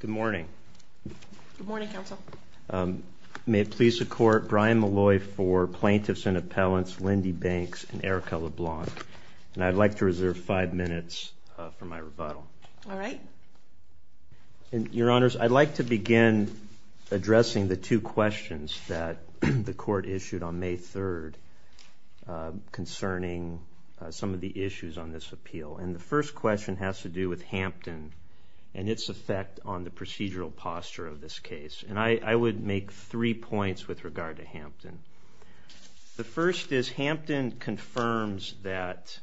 Good morning. Good morning, Counsel. May it please the Court, Brian Malloy for Plaintiffs and Appellants, Lindy Banks, and Erica LeBlanc, and I'd like to reserve five minutes for my rebuttal. All right. Your Honors, I'd like to begin addressing the two questions that the Court issued on May 3rd concerning some of the issues on this appeal, and the first question has to do with Hampton and its effect on the procedural posture of this case, and I would make three points with regard to Hampton. The first is Hampton confirms that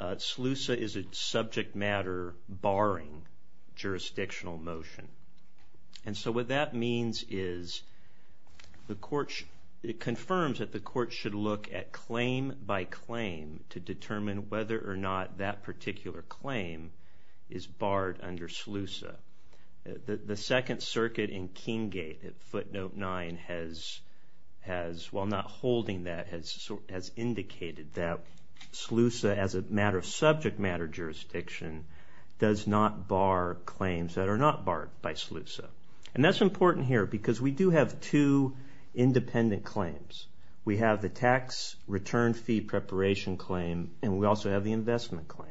SLUSA is a subject matter barring jurisdictional motion, and so what that means is it confirms that the Court should look at claim by claim to SLUSA is barred under SLUSA. The Second Circuit in King Gate at footnote 9 has, while not holding that, has indicated that SLUSA as a matter of subject matter jurisdiction does not bar claims that are not barred by SLUSA, and that's important here because we do have two independent claims. We have the tax return fee preparation claim, and we also have the investment claim.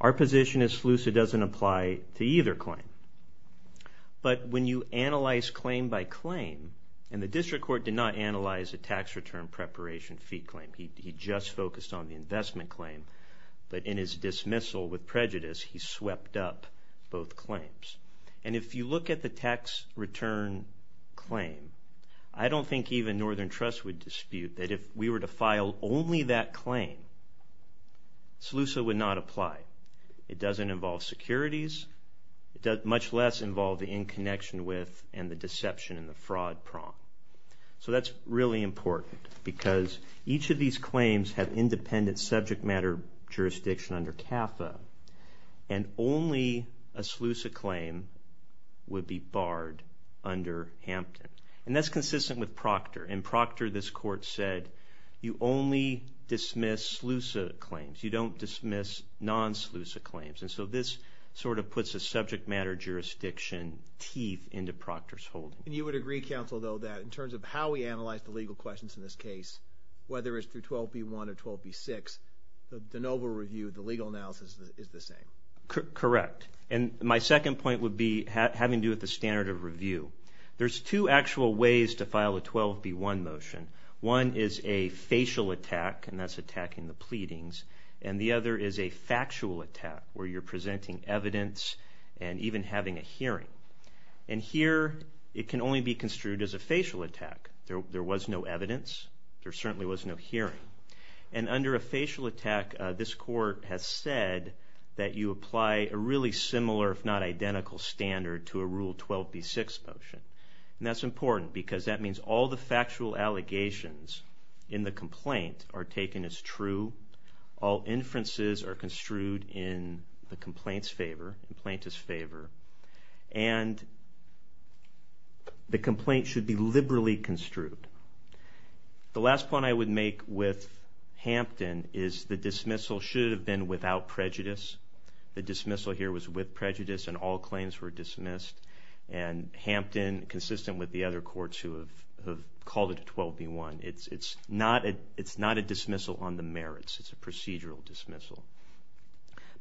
Our position is SLUSA doesn't apply to either claim, but when you analyze claim by claim, and the District Court did not analyze the tax return preparation fee claim. He just focused on the investment claim, but in his dismissal with prejudice he swept up both claims, and if you look at the tax return claim, I don't think even Northern Trust would SLUSA would not apply. It doesn't involve securities. It does much less involve the in connection with and the deception and the fraud prompt, so that's really important because each of these claims have independent subject matter jurisdiction under CAFA, and only a SLUSA claim would be barred under Hampton, and that's consistent with Proctor. In Proctor, this court said you only dismiss SLUSA claims. You don't dismiss non-SLUSA claims, and so this sort of puts a subject matter jurisdiction teeth into Proctor's holding. And you would agree, counsel, though, that in terms of how we analyze the legal questions in this case, whether it's through 12b-1 or 12b-6, the noble review, the legal analysis is the same? Correct, and my second point would be having to do with the standard of review. There's two actual ways to file a 12b-1 motion. One is a facial attack, and that's attacking the pleadings, and the other is a factual attack where you're presenting evidence and even having a hearing. And here it can only be construed as a facial attack. There was no evidence. There certainly was no hearing. And under a facial attack, this court has said that you apply a really similar, if not identical, standard to a Rule 12b-6 motion, and that's important because that means all the factual allegations in the complaint are taken as true. All inferences are construed in the complaint's favor, the plaintiff's favor, and the complaint should be liberally construed. The last point I would make with Hampton is the dismissal should have been without prejudice. The dismissal here was with prejudice, and all claims were dismissed. And Hampton, consistent with the other courts who have called it a 12b-1, it's not a dismissal on the merits. It's a procedural dismissal.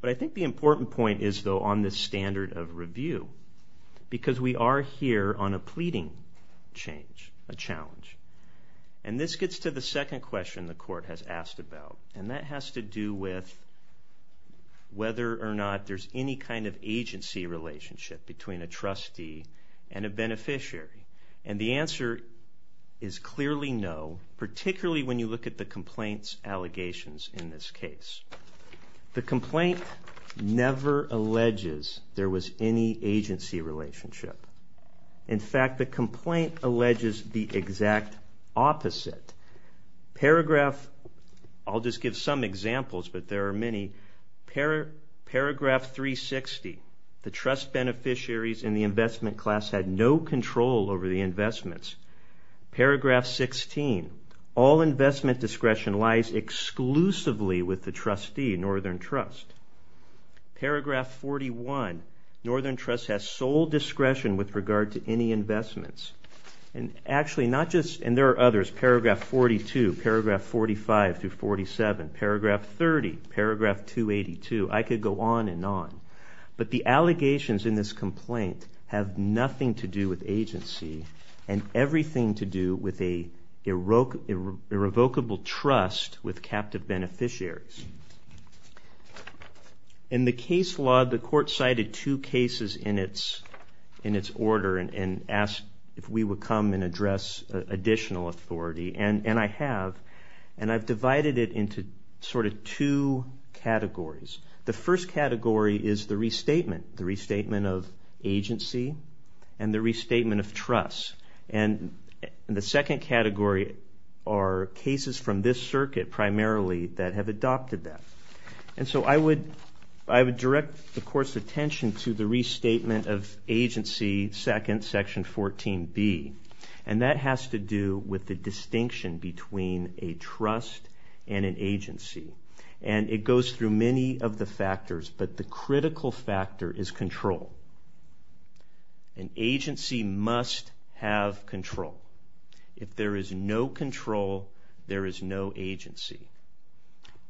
But I think the important point is, though, on this standard of review because we are here on a pleading change, a challenge. And this gets to the second question the court has asked about, and that has to do with whether or not there's any kind of agency relationship between a trustee and a beneficiary. And the answer is clearly no, particularly when you look at the complaint's allegations in this case. The complaint never alleges there was any agency relationship. In fact, the complaint alleges the exact opposite. Paragraph, I'll just give some examples, but there are many. Paragraph 360, the trust beneficiaries in the investment class had no control over the investments. Paragraph 16, all investment discretion lies exclusively with the trustee, Northern Trust. Paragraph 41, Northern Trust has sole discretion with regard to any investments. And actually, not just, and there are others, paragraph 42, paragraph 45 through 47, paragraph 30, paragraph 282, I could go on and on. But the allegations in this complaint have nothing to do with agency and everything to do with a revocable trust with captive beneficiaries. In the case law, the court cited two cases in its order and asked if we would come and address additional authority, and I have. And I've divided it into sort of two categories. The first category is the restatement, the restatement of agency and the restatement of trust. And the second category are cases from this circuit primarily that have adopted that. And so I would direct the court's attention to the restatement of agency, second, section 14B, and that has to do with the distinction between a trust and an agency. And it goes through many of the factors, but the critical factor is control. An agency must have control. If there is no control, there is no agency.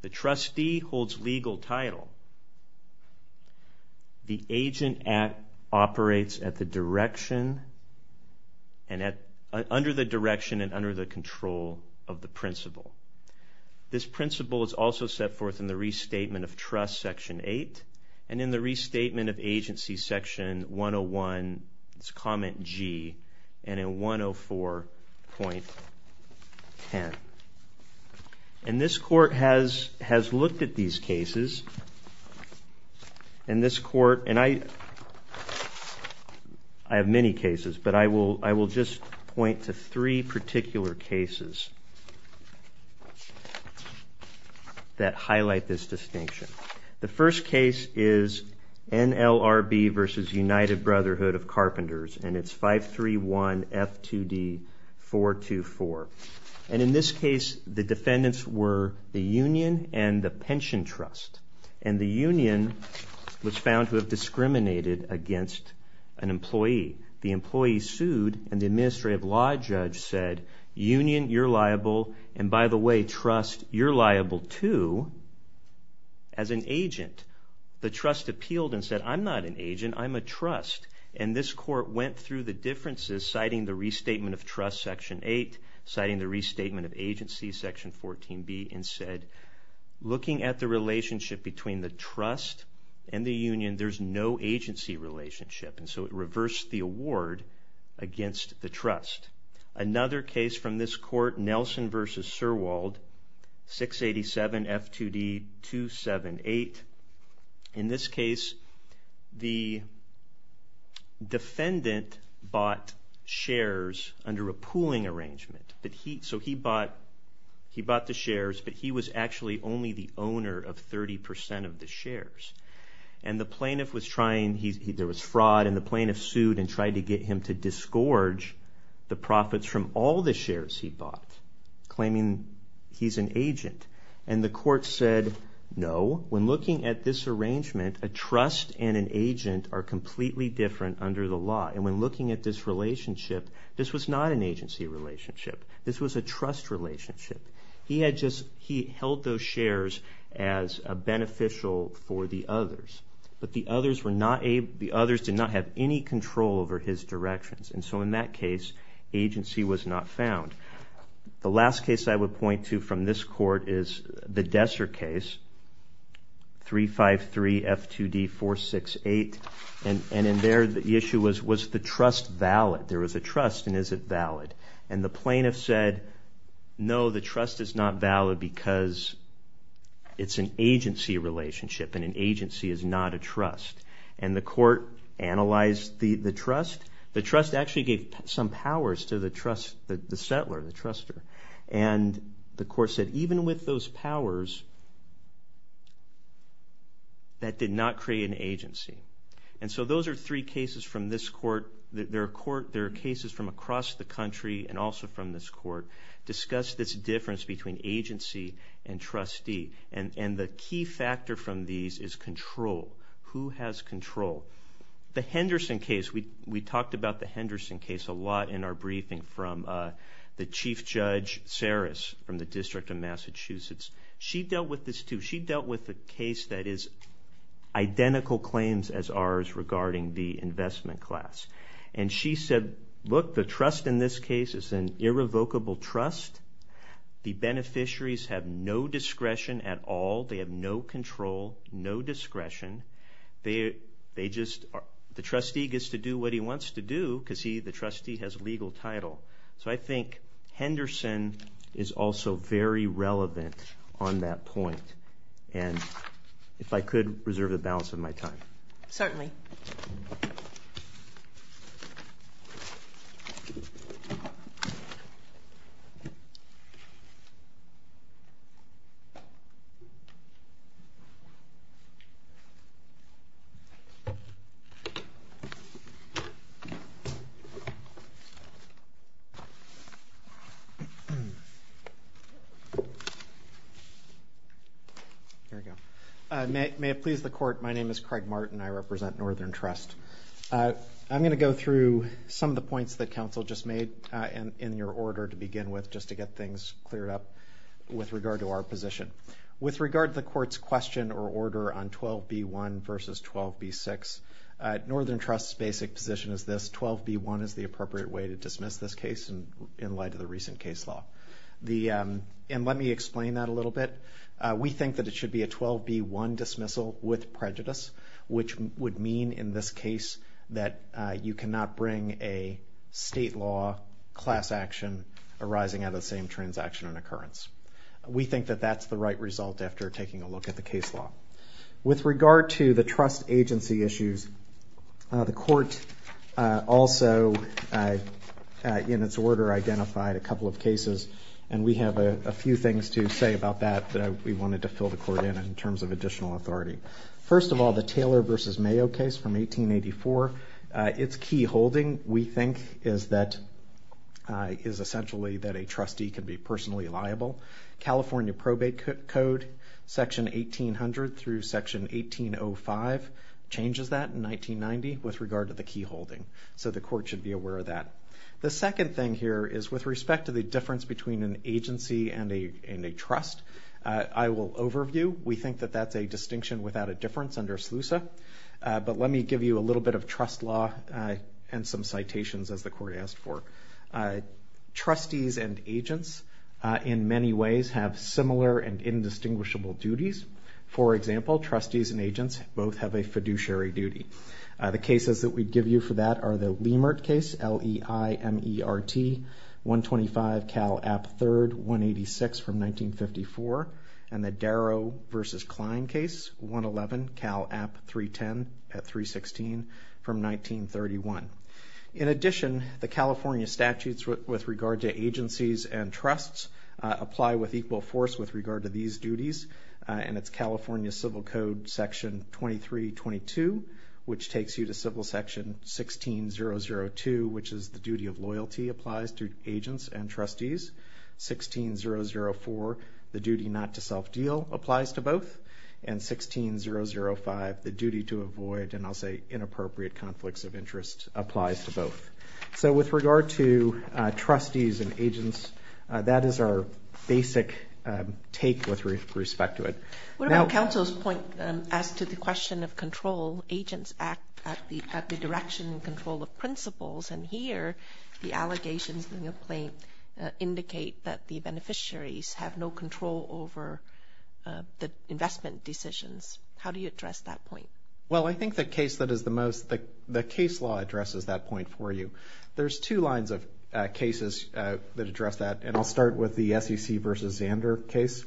The trustee holds legal title. The agent operates under the direction and under the control of the principal. This principal is also set forth in the restatement of trust, section 8, and in the restatement of agency, section 101, it's comment G, and in 104.10. And this court has looked at these cases, and this court, and I have many cases, but I will just point to three particular cases that highlight this distinction. The first case is NLRB versus United Brotherhood of Carpenters, and it's 531 F2D 424. And in this case, the defendants were the union and the pension trust, and the union was found to have discriminated against an employee. The employee sued, and the administrative law judge said, union, you're liable, and by the way, trust, you're liable too as an agent. The trust appealed and said, I'm not an agent, I'm a trust. And this court went through the differences, citing the restatement of trust, section 8, citing the restatement of agency, section 14B, and said, looking at the relationship between the trust and the union, there's no agency relationship, and so it reversed the award against the trust. Another case from this court, Nelson versus Sirwald, 687 F2D 278. In this case, the defendant bought shares under a pooling arrangement, so he bought the shares, but he was actually only the owner of 30% of the shares. And the plaintiff was trying, there was fraud, and the plaintiff sued and tried to get him to disgorge the profits from all the shares he bought, claiming he's an agent. And the court said, no, when looking at this arrangement, a trust and an agent are completely different under the law. And when looking at this relationship, this was not an agency relationship. This was a trust relationship. He held those shares as beneficial for the others, but the others did not have any control over his directions, and so in that case, agency was not found. The last case I would point to from this court is the Desser case, 353 F2D 468. And in there, the issue was, was the trust valid? There was a trust, and is it valid? And the plaintiff said, no, the trust is not valid because it's an agency relationship, and an agency is not a trust. And the court analyzed the trust. The trust actually gave some powers to the settler, the trustor, and the court said, even with those powers, that did not create an agency. And so those are three cases from this court. There are cases from across the country and also from this court discuss this difference between agency and trustee, and the key factor from these is control. Who has control? The Henderson case, we talked about the Henderson case a lot in our briefing from the Chief Judge Saris from the District of Massachusetts. She dealt with this too. She dealt with a case that is identical claims as ours regarding the investment class. And she said, look, the trust in this case is an irrevocable trust. The beneficiaries have no discretion at all. They have no control, no discretion. They just are the trustee gets to do what he wants to do because the trustee has a legal title. So I think Henderson is also very relevant on that point. And if I could reserve the balance of my time. Certainly. Here we go. May it please the Court, my name is Craig Martin. I represent Northern Trust. I'm going to go through some of the points that counsel just made in your order to begin with just to get things cleared up with regard to our position. With regard to the Court's question or order on 12b-1 versus 12b-6, Northern Trust's basic position is this, 12b-1 is the appropriate way to dismiss this case in light of the recent case law. And let me explain that a little bit. We think that it should be a 12b-1 dismissal with prejudice, which would mean in this case that you cannot bring a state law class action arising out of the same transaction and occurrence. We think that that's the right result after taking a look at the case law. With regard to the trust agency issues, the Court also in its order identified a couple of cases, and we have a few things to say about that that we wanted to fill the Court in in terms of additional authority. First of all, the Taylor versus Mayo case from 1884, its key holding we think is essentially that a trustee can be personally liable. California Probate Code, Section 1800 through Section 1805, changes that in 1990 with regard to the key holding. So the Court should be aware of that. The second thing here is with respect to the difference between an agency and a trust, I will overview. We think that that's a distinction without a difference under SLUSA. But let me give you a little bit of trust law and some citations as the Court asked for. Trustees and agents in many ways have similar and indistinguishable duties. For example, trustees and agents both have a fiduciary duty. The cases that we give you for that are the Leimert case, L-E-I-M-E-R-T, 125 Cal App III, 186 from 1954, and the Darrow versus Kline case, 111 Cal App 310 at 316 from 1931. In addition, the California statutes with regard to agencies and trusts apply with equal force with regard to these duties, and it's California Civil Code, Section 2322, which takes you to Civil Section 16002, which is the duty of loyalty applies to agents and trustees. 16004, the duty not to self-deal, applies to both. And 16005, the duty to avoid, and I'll say inappropriate, conflicts of interest applies to both. So with regard to trustees and agents, that is our basic take with respect to it. What about counsel's point as to the question of control? Agents act at the direction and control of principles, and here the allegations in the complaint indicate that the beneficiaries have no control over the investment decisions. How do you address that point? Well, I think the case that is the most, the case law addresses that point for you. There's two lines of cases that address that, and I'll start with the SEC versus Zander case.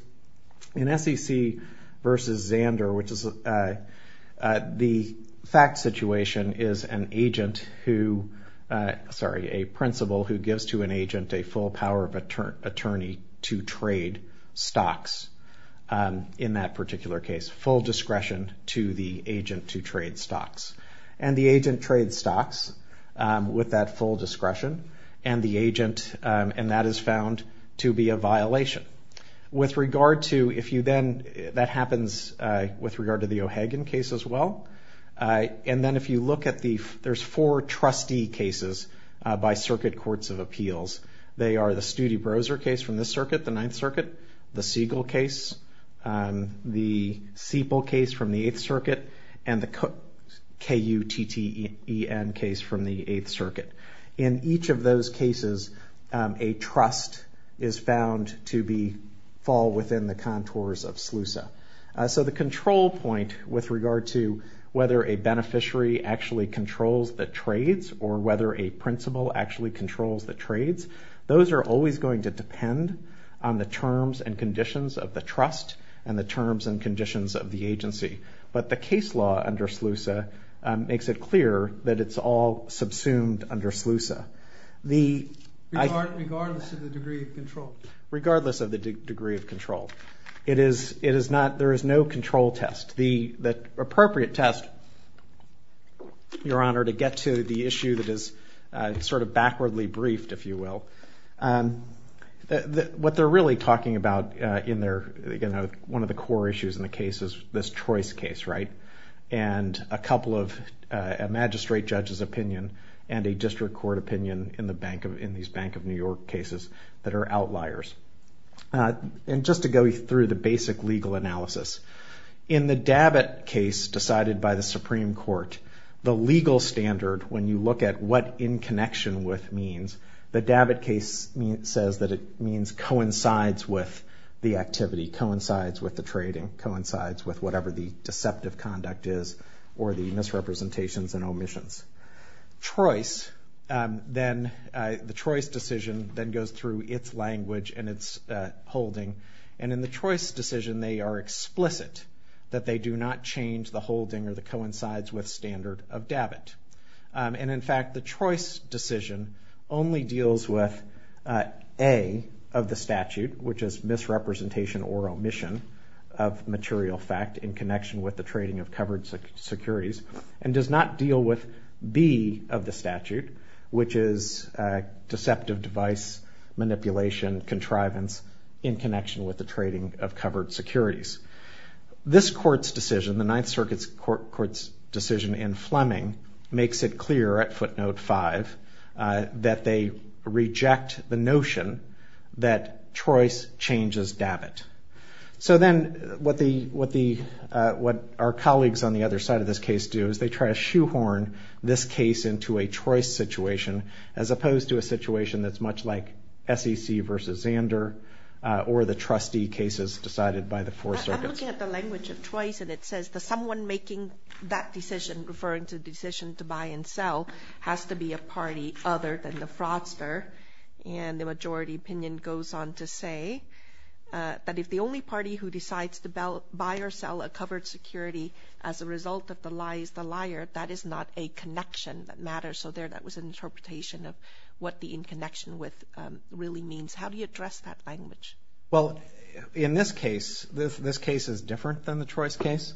In SEC versus Zander, which is the fact situation, is an agent who, sorry, a principal who gives to an agent a full power of attorney to trade stocks in that particular case, full discretion to the agent to trade stocks. And the agent trades stocks with that full discretion, and the agent, and that is found to be a violation. With regard to, if you then, that happens with regard to the O'Hagan case as well, and then if you look at the, there's four trustee cases by circuit courts of appeals. They are the Studi-Broser case from this circuit, the Ninth Circuit, the Siegel case, the Siepel case from the Eighth Circuit, and the KUTTEN case from the Eighth Circuit. In each of those cases, a trust is found to be, fall within the contours of SLUSA. So the control point with regard to whether a beneficiary actually controls the trades or whether a principal actually controls the trades, those are always going to depend on the terms and conditions of the trust and the terms and conditions of the agency. But the case law under SLUSA makes it clear that it's all subsumed under SLUSA. Regardless of the degree of control. Regardless of the degree of control. It is not, there is no control test. The appropriate test, Your Honor, to get to the issue that is sort of backwardly briefed, if you will, what they're really talking about in their, one of the core issues in the case is this choice case, right? And a couple of, a magistrate judge's opinion and a district court opinion in these Bank of New York cases that are outliers. And just to go through the basic legal analysis. In the Dabbitt case decided by the Supreme Court, the legal standard, when you look at what in connection with means, the Dabbitt case says that it means coincides with the activity, coincides with the trading, coincides with whatever the deceptive conduct is or the misrepresentations and omissions. Choice, then, the choice decision then goes through its language and its holding. And in the choice decision, they are explicit that they do not change the holding or the coincides with standard of Dabbitt. And in fact, the choice decision only deals with A, of the statute, which is misrepresentation or omission of material fact in connection with the trading of covered securities and does not deal with B, of the statute, which is deceptive device, manipulation, contrivance in connection with the trading of covered securities. This court's decision, the Ninth Circuit's court's decision in Fleming makes it clear at footnote five that they reject the notion that choice changes Dabbitt. So then what our colleagues on the other side of this case do is they try to shoehorn this case into a choice situation as opposed to a situation that's much like SEC versus Zander or the trustee cases decided by the Fourth Circuit. I'm looking at the language of choice and it says that someone making that decision, referring to the decision to buy and sell, has to be a party other than the fraudster. And the majority opinion goes on to say that if the only party who decides to buy or sell a covered security as a result of the lie is the liar, that is not a connection that matters. So there that was an interpretation of what the in connection with really means. How do you address that language? Well, in this case, this case is different than the choice case.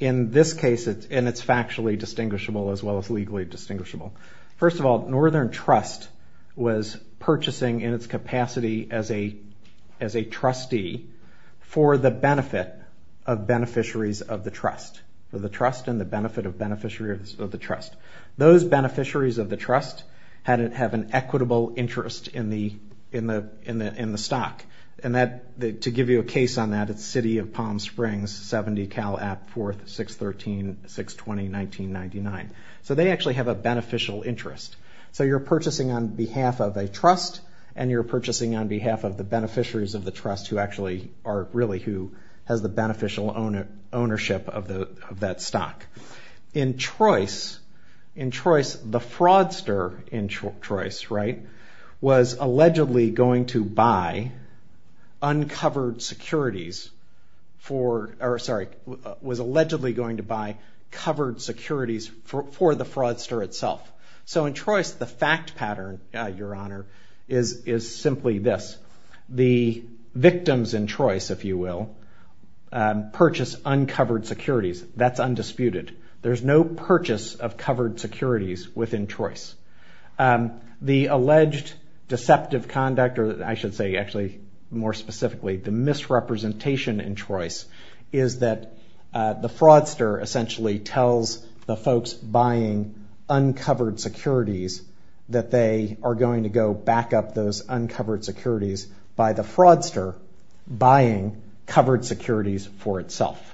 In this case, and it's factually distinguishable as well as legally distinguishable. First of all, Northern Trust was purchasing in its capacity as a trustee for the benefit of beneficiaries of the trust. For the trust and the benefit of beneficiaries of the trust. Those beneficiaries of the trust have an equitable interest in the stock. And to give you a case on that, it's City of Palm Springs, 70 Cal App 4th, 613-620-1999. So they actually have a beneficial interest. So you're purchasing on behalf of a trust, and you're purchasing on behalf of the beneficiaries of the trust who actually are really who has the beneficial ownership of that stock. In choice, the fraudster in choice, right, was allegedly going to buy uncovered securities for, or sorry, was allegedly going to buy covered securities for the fraudster itself. So in choice, the fact pattern, Your Honor, is simply this. The victims in choice, if you will, purchase uncovered securities. That's undisputed. There's no purchase of covered securities within choice. The alleged deceptive conduct, or I should say actually more specifically, the misrepresentation in choice, is that the fraudster essentially tells the folks buying uncovered securities that they are going to go back up those uncovered securities by the fraudster buying covered securities for itself.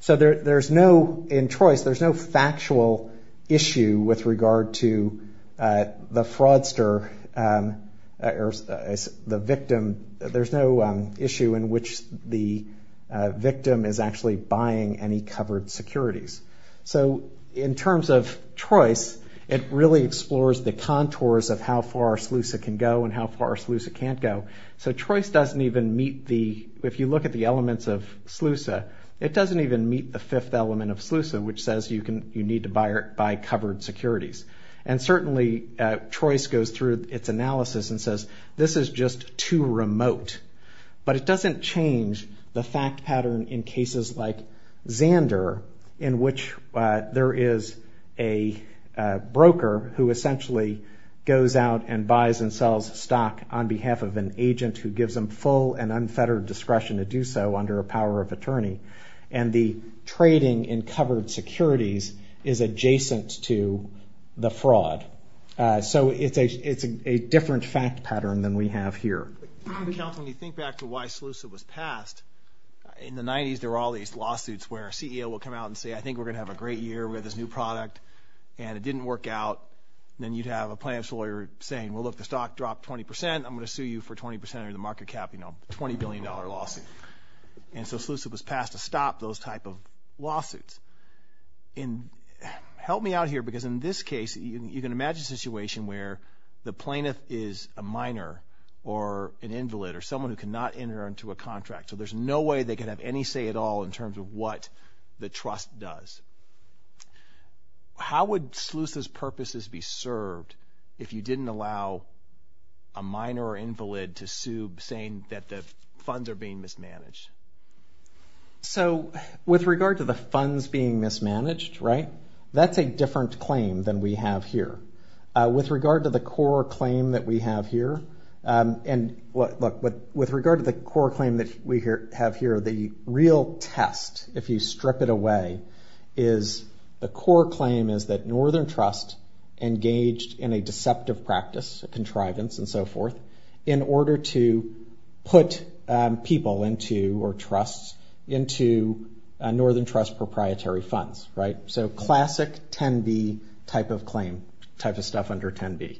So there's no, in choice, there's no factual issue with regard to the fraudster or the victim. There's no issue in which the victim is actually buying any covered securities. So in terms of choice, it really explores the contours of how far SLUSA can go and how far SLUSA can't go. So choice doesn't even meet the, if you look at the elements of SLUSA, it doesn't even meet the fifth element of SLUSA, which says you need to buy covered securities. And certainly choice goes through its analysis and says this is just too remote. But it doesn't change the fact pattern in cases like Xander in which there is a broker who essentially goes out and buys and sells stock on behalf of an agent who gives them full and unfettered discretion to do so under a power of attorney. And the trading in covered securities is adjacent to the fraud. So it's a different fact pattern than we have here. When you think back to why SLUSA was passed, in the 90s there were all these lawsuits where a CEO would come out and say, I think we're going to have a great year. We have this new product. And it didn't work out. Then you'd have a plaintiff's lawyer saying, well, look, the stock dropped 20%. I'm going to sue you for 20% or the market cap, you know, $20 billion lawsuit. And so SLUSA was passed to stop those type of lawsuits. And help me out here because in this case you can imagine a situation where the plaintiff is a minor or an invalid or someone who cannot enter into a contract. So there's no way they can have any say at all in terms of what the trust does. How would SLUSA's purposes be served if you didn't allow a minor or invalid to sue saying that the funds are being mismanaged? So with regard to the funds being mismanaged, right, that's a different claim than we have here. With regard to the core claim that we have here, and look, with regard to the core claim that we have here, the real test, if you strip it away, is the core claim is that Northern Trust engaged in a deceptive practice, a contrivance and so forth, in order to put people into, or trusts, into Northern Trust proprietary funds, right? So classic 10B type of claim, type of stuff under 10B.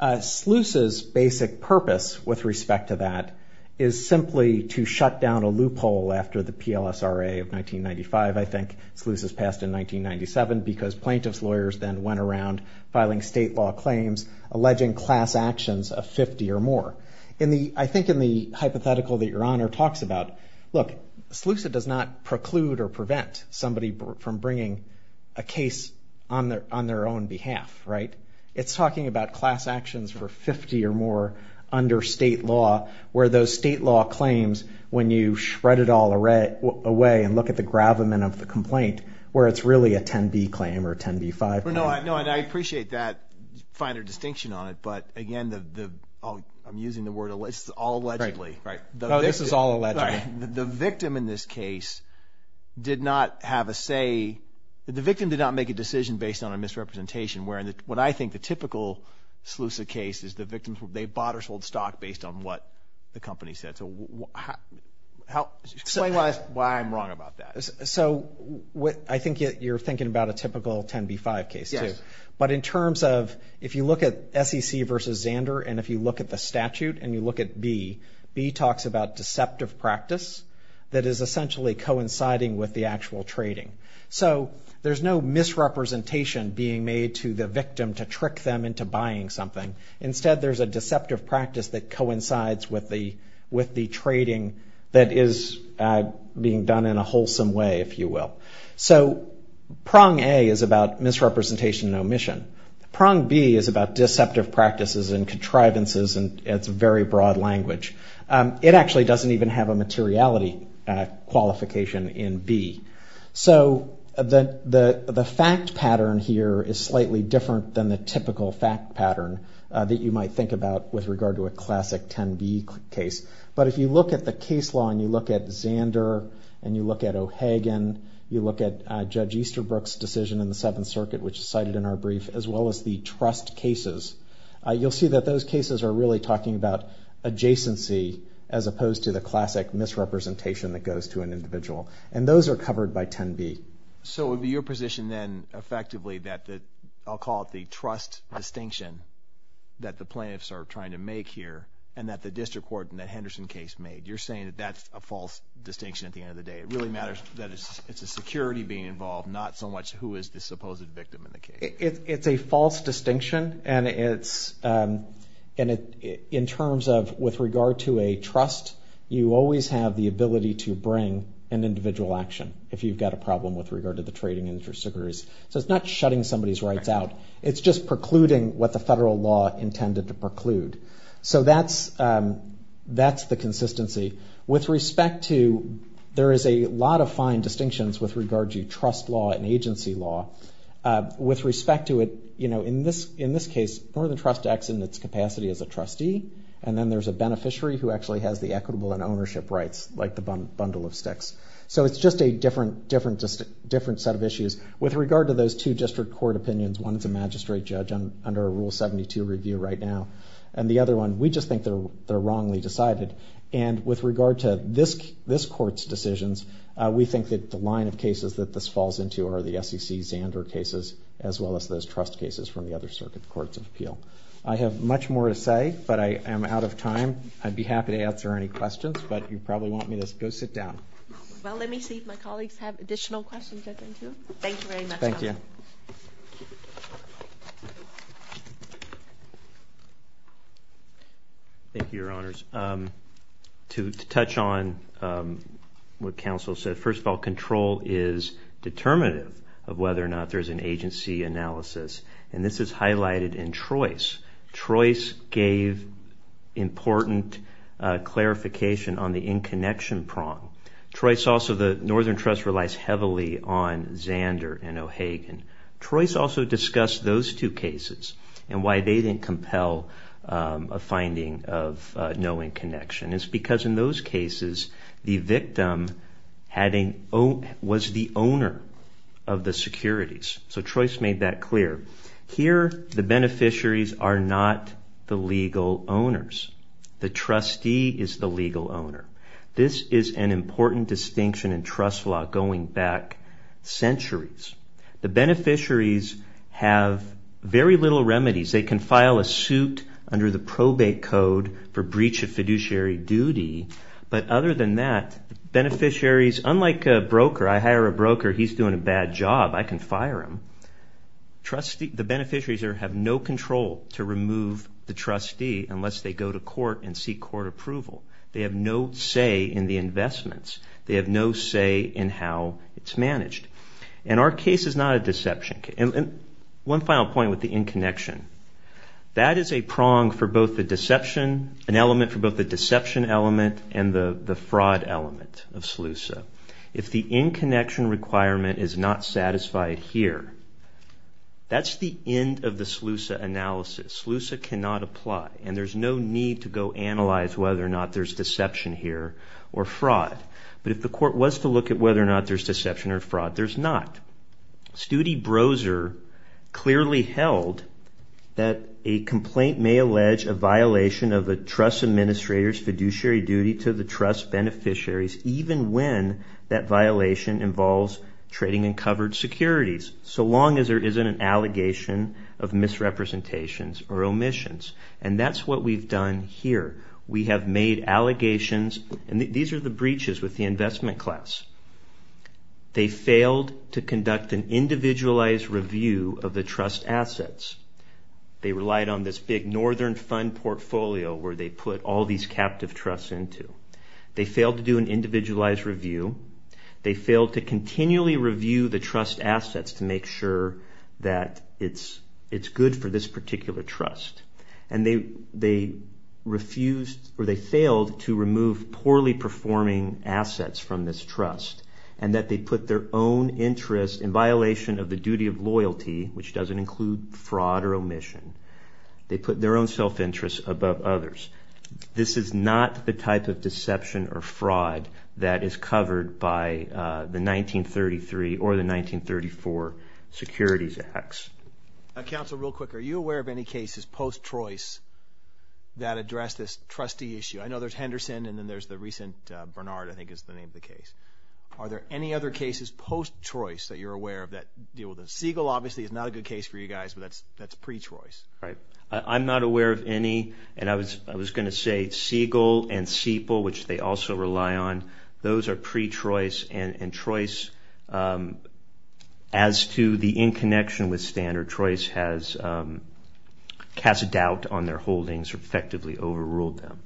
SLUSA's basic purpose with respect to that is simply to shut down a loophole after the PLSRA of 1995, I think. SLUSA's passed in 1997 because plaintiff's lawyers then went around filing state law claims, alleging class actions of 50 or more. I think in the hypothetical that Your Honor talks about, look, SLUSA does not preclude or prevent somebody from bringing a case on their own behalf, right? It's talking about class actions for 50 or more under state law, where those state law claims, when you shred it all away and look at the gravamen of the complaint, where it's really a 10B claim or a 10B-5 claim. No, and I appreciate that finer distinction on it, but again, I'm using the word all allegedly, right? No, this is all allegedly. The victim in this case did not have a say. The victim did not make a decision based on a misrepresentation, where what I think the typical SLUSA case is the victim, they bought or sold stock based on what the company said. So explain why I'm wrong about that. So I think you're thinking about a typical 10B-5 case too. Yes. But in terms of if you look at SEC versus Zander and if you look at the statute and you look at B, B talks about deceptive practice that is essentially coinciding with the actual trading. So there's no misrepresentation being made to the victim to trick them into buying something. Instead, there's a deceptive practice that coincides with the trading that is being done in a wholesome way, if you will. So prong A is about misrepresentation and omission. Prong B is about deceptive practices and contrivances and it's very broad language. It actually doesn't even have a materiality qualification in B. So the fact pattern here is slightly different than the typical fact pattern that you might think about with regard to a classic 10B case. But if you look at the case law and you look at Zander and you look at O'Hagan, you look at Judge Easterbrook's decision in the Seventh Circuit, which is cited in our brief, as well as the trust cases, you'll see that those cases are really talking about adjacency as opposed to the classic misrepresentation that goes to an individual. And those are covered by 10B. So it would be your position then, effectively, that I'll call it the trust distinction that the plaintiffs are trying to make here and that the district court in that Henderson case made. You're saying that that's a false distinction at the end of the day. It really matters that it's the security being involved, not so much who is the supposed victim in the case. It's a false distinction and it's in terms of, with regard to a trust, you always have the ability to bring an individual action if you've got a problem with regard to the trading interests. So it's not shutting somebody's rights out. It's just precluding what the federal law intended to preclude. So that's the consistency. With respect to, there is a lot of fine distinctions with regard to trust law and agency law. With respect to it, in this case, Northern Trust acts in its capacity as a trustee and then there's a beneficiary who actually has the equitable and ownership rights, like the bundle of sticks. So it's just a different set of issues. With regard to those two district court opinions, one is a magistrate judge under a Rule 72 review right now, and the other one, we just think they're wrongly decided. And with regard to this court's decisions, we think that the line of cases that this falls into are the SEC Zander cases as well as those trust cases from the other circuit courts of appeal. I have much more to say, but I am out of time. I'd be happy to answer any questions, but you probably want me to go sit down. Well, let me see if my colleagues have additional questions. Thank you very much. Thank you, Your Honors. To touch on what counsel said, first of all, control is determinative of whether or not there's an agency analysis, and this is highlighted in Trois. Trois gave important clarification on the in-connection prong. Trois also, the Northern Trust relies heavily on Zander and O'Hagan. Trois also discussed those two cases and why they didn't compel a finding of no in-connection. It's because in those cases, the victim was the owner of the securities. So Trois made that clear. Here, the beneficiaries are not the legal owners. The trustee is the legal owner. This is an important distinction in trust law going back centuries. The beneficiaries have very little remedies. They can file a suit under the probate code for breach of fiduciary duty, but other than that, beneficiaries, unlike a broker, I hire a broker, he's doing a bad job, I can fire him. The beneficiaries have no control to remove the trustee unless they go to court and seek court approval. They have no say in the investments. They have no say in how it's managed. And our case is not a deception case. One final point with the in-connection. That is a prong for both the deception, an element for both the deception element and the fraud element of SLUSA. If the in-connection requirement is not satisfied here, that's the end of the SLUSA analysis. SLUSA cannot apply, and there's no need to go analyze whether or not there's deception here or fraud. But if the court was to look at whether or not there's deception or fraud, there's not. Stude Broser clearly held that a complaint may allege a violation of a trust administrator's fiduciary duty to the trust beneficiaries, even when that violation involves trading in covered securities, so long as there isn't an allegation of misrepresentations or omissions. And that's what we've done here. We have made allegations, and these are the breaches with the investment class. They failed to conduct an individualized review of the trust assets. They relied on this big Northern Fund portfolio where they put all these captive trusts into. They failed to do an individualized review. They failed to continually review the trust assets to make sure that it's good for this particular trust. And they refused, or they failed, to remove poorly performing assets from this trust and that they put their own interest in violation of the duty of loyalty, which doesn't include fraud or omission. They put their own self-interest above others. This is not the type of deception or fraud that is covered by the 1933 or the 1934 Securities Acts. Now, Counsel, real quick, are you aware of any cases post-Trois that address this trustee issue? I know there's Henderson, and then there's the recent Bernard, I think is the name of the case. Are there any other cases post-Trois that you're aware of that deal with this? Siegel, obviously, is not a good case for you guys, but that's pre-Trois. I'm not aware of any, and I was going to say Siegel and Siepel, which they also rely on. Those are pre-Trois, and Trois, as to the in-connection with Standard, Trois has cast doubt on their holdings or effectively overruled them.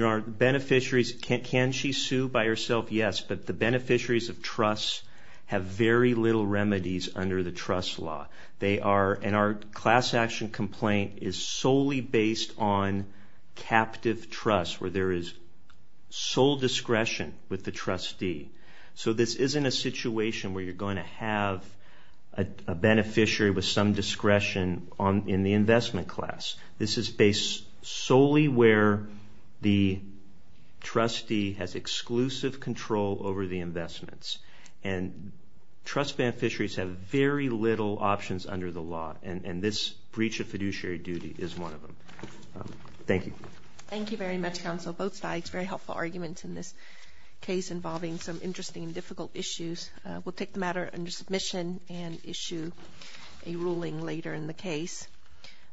Our beneficiaries, can she sue by herself? Yes, but the beneficiaries of trusts have very little remedies under the trust law. Our class action complaint is solely based on captive trusts where there is sole discretion with the trustee. So this isn't a situation where you're going to have a beneficiary with some discretion in the investment class. This is based solely where the trustee has exclusive control over the investments. And trust beneficiaries have very little options under the law, and this breach of fiduciary duty is one of them. Thank you. Thank you very much, Counsel. Both sides, very helpful arguments in this case involving some interesting and difficult issues. We'll take the matter under submission and issue a ruling later in the case.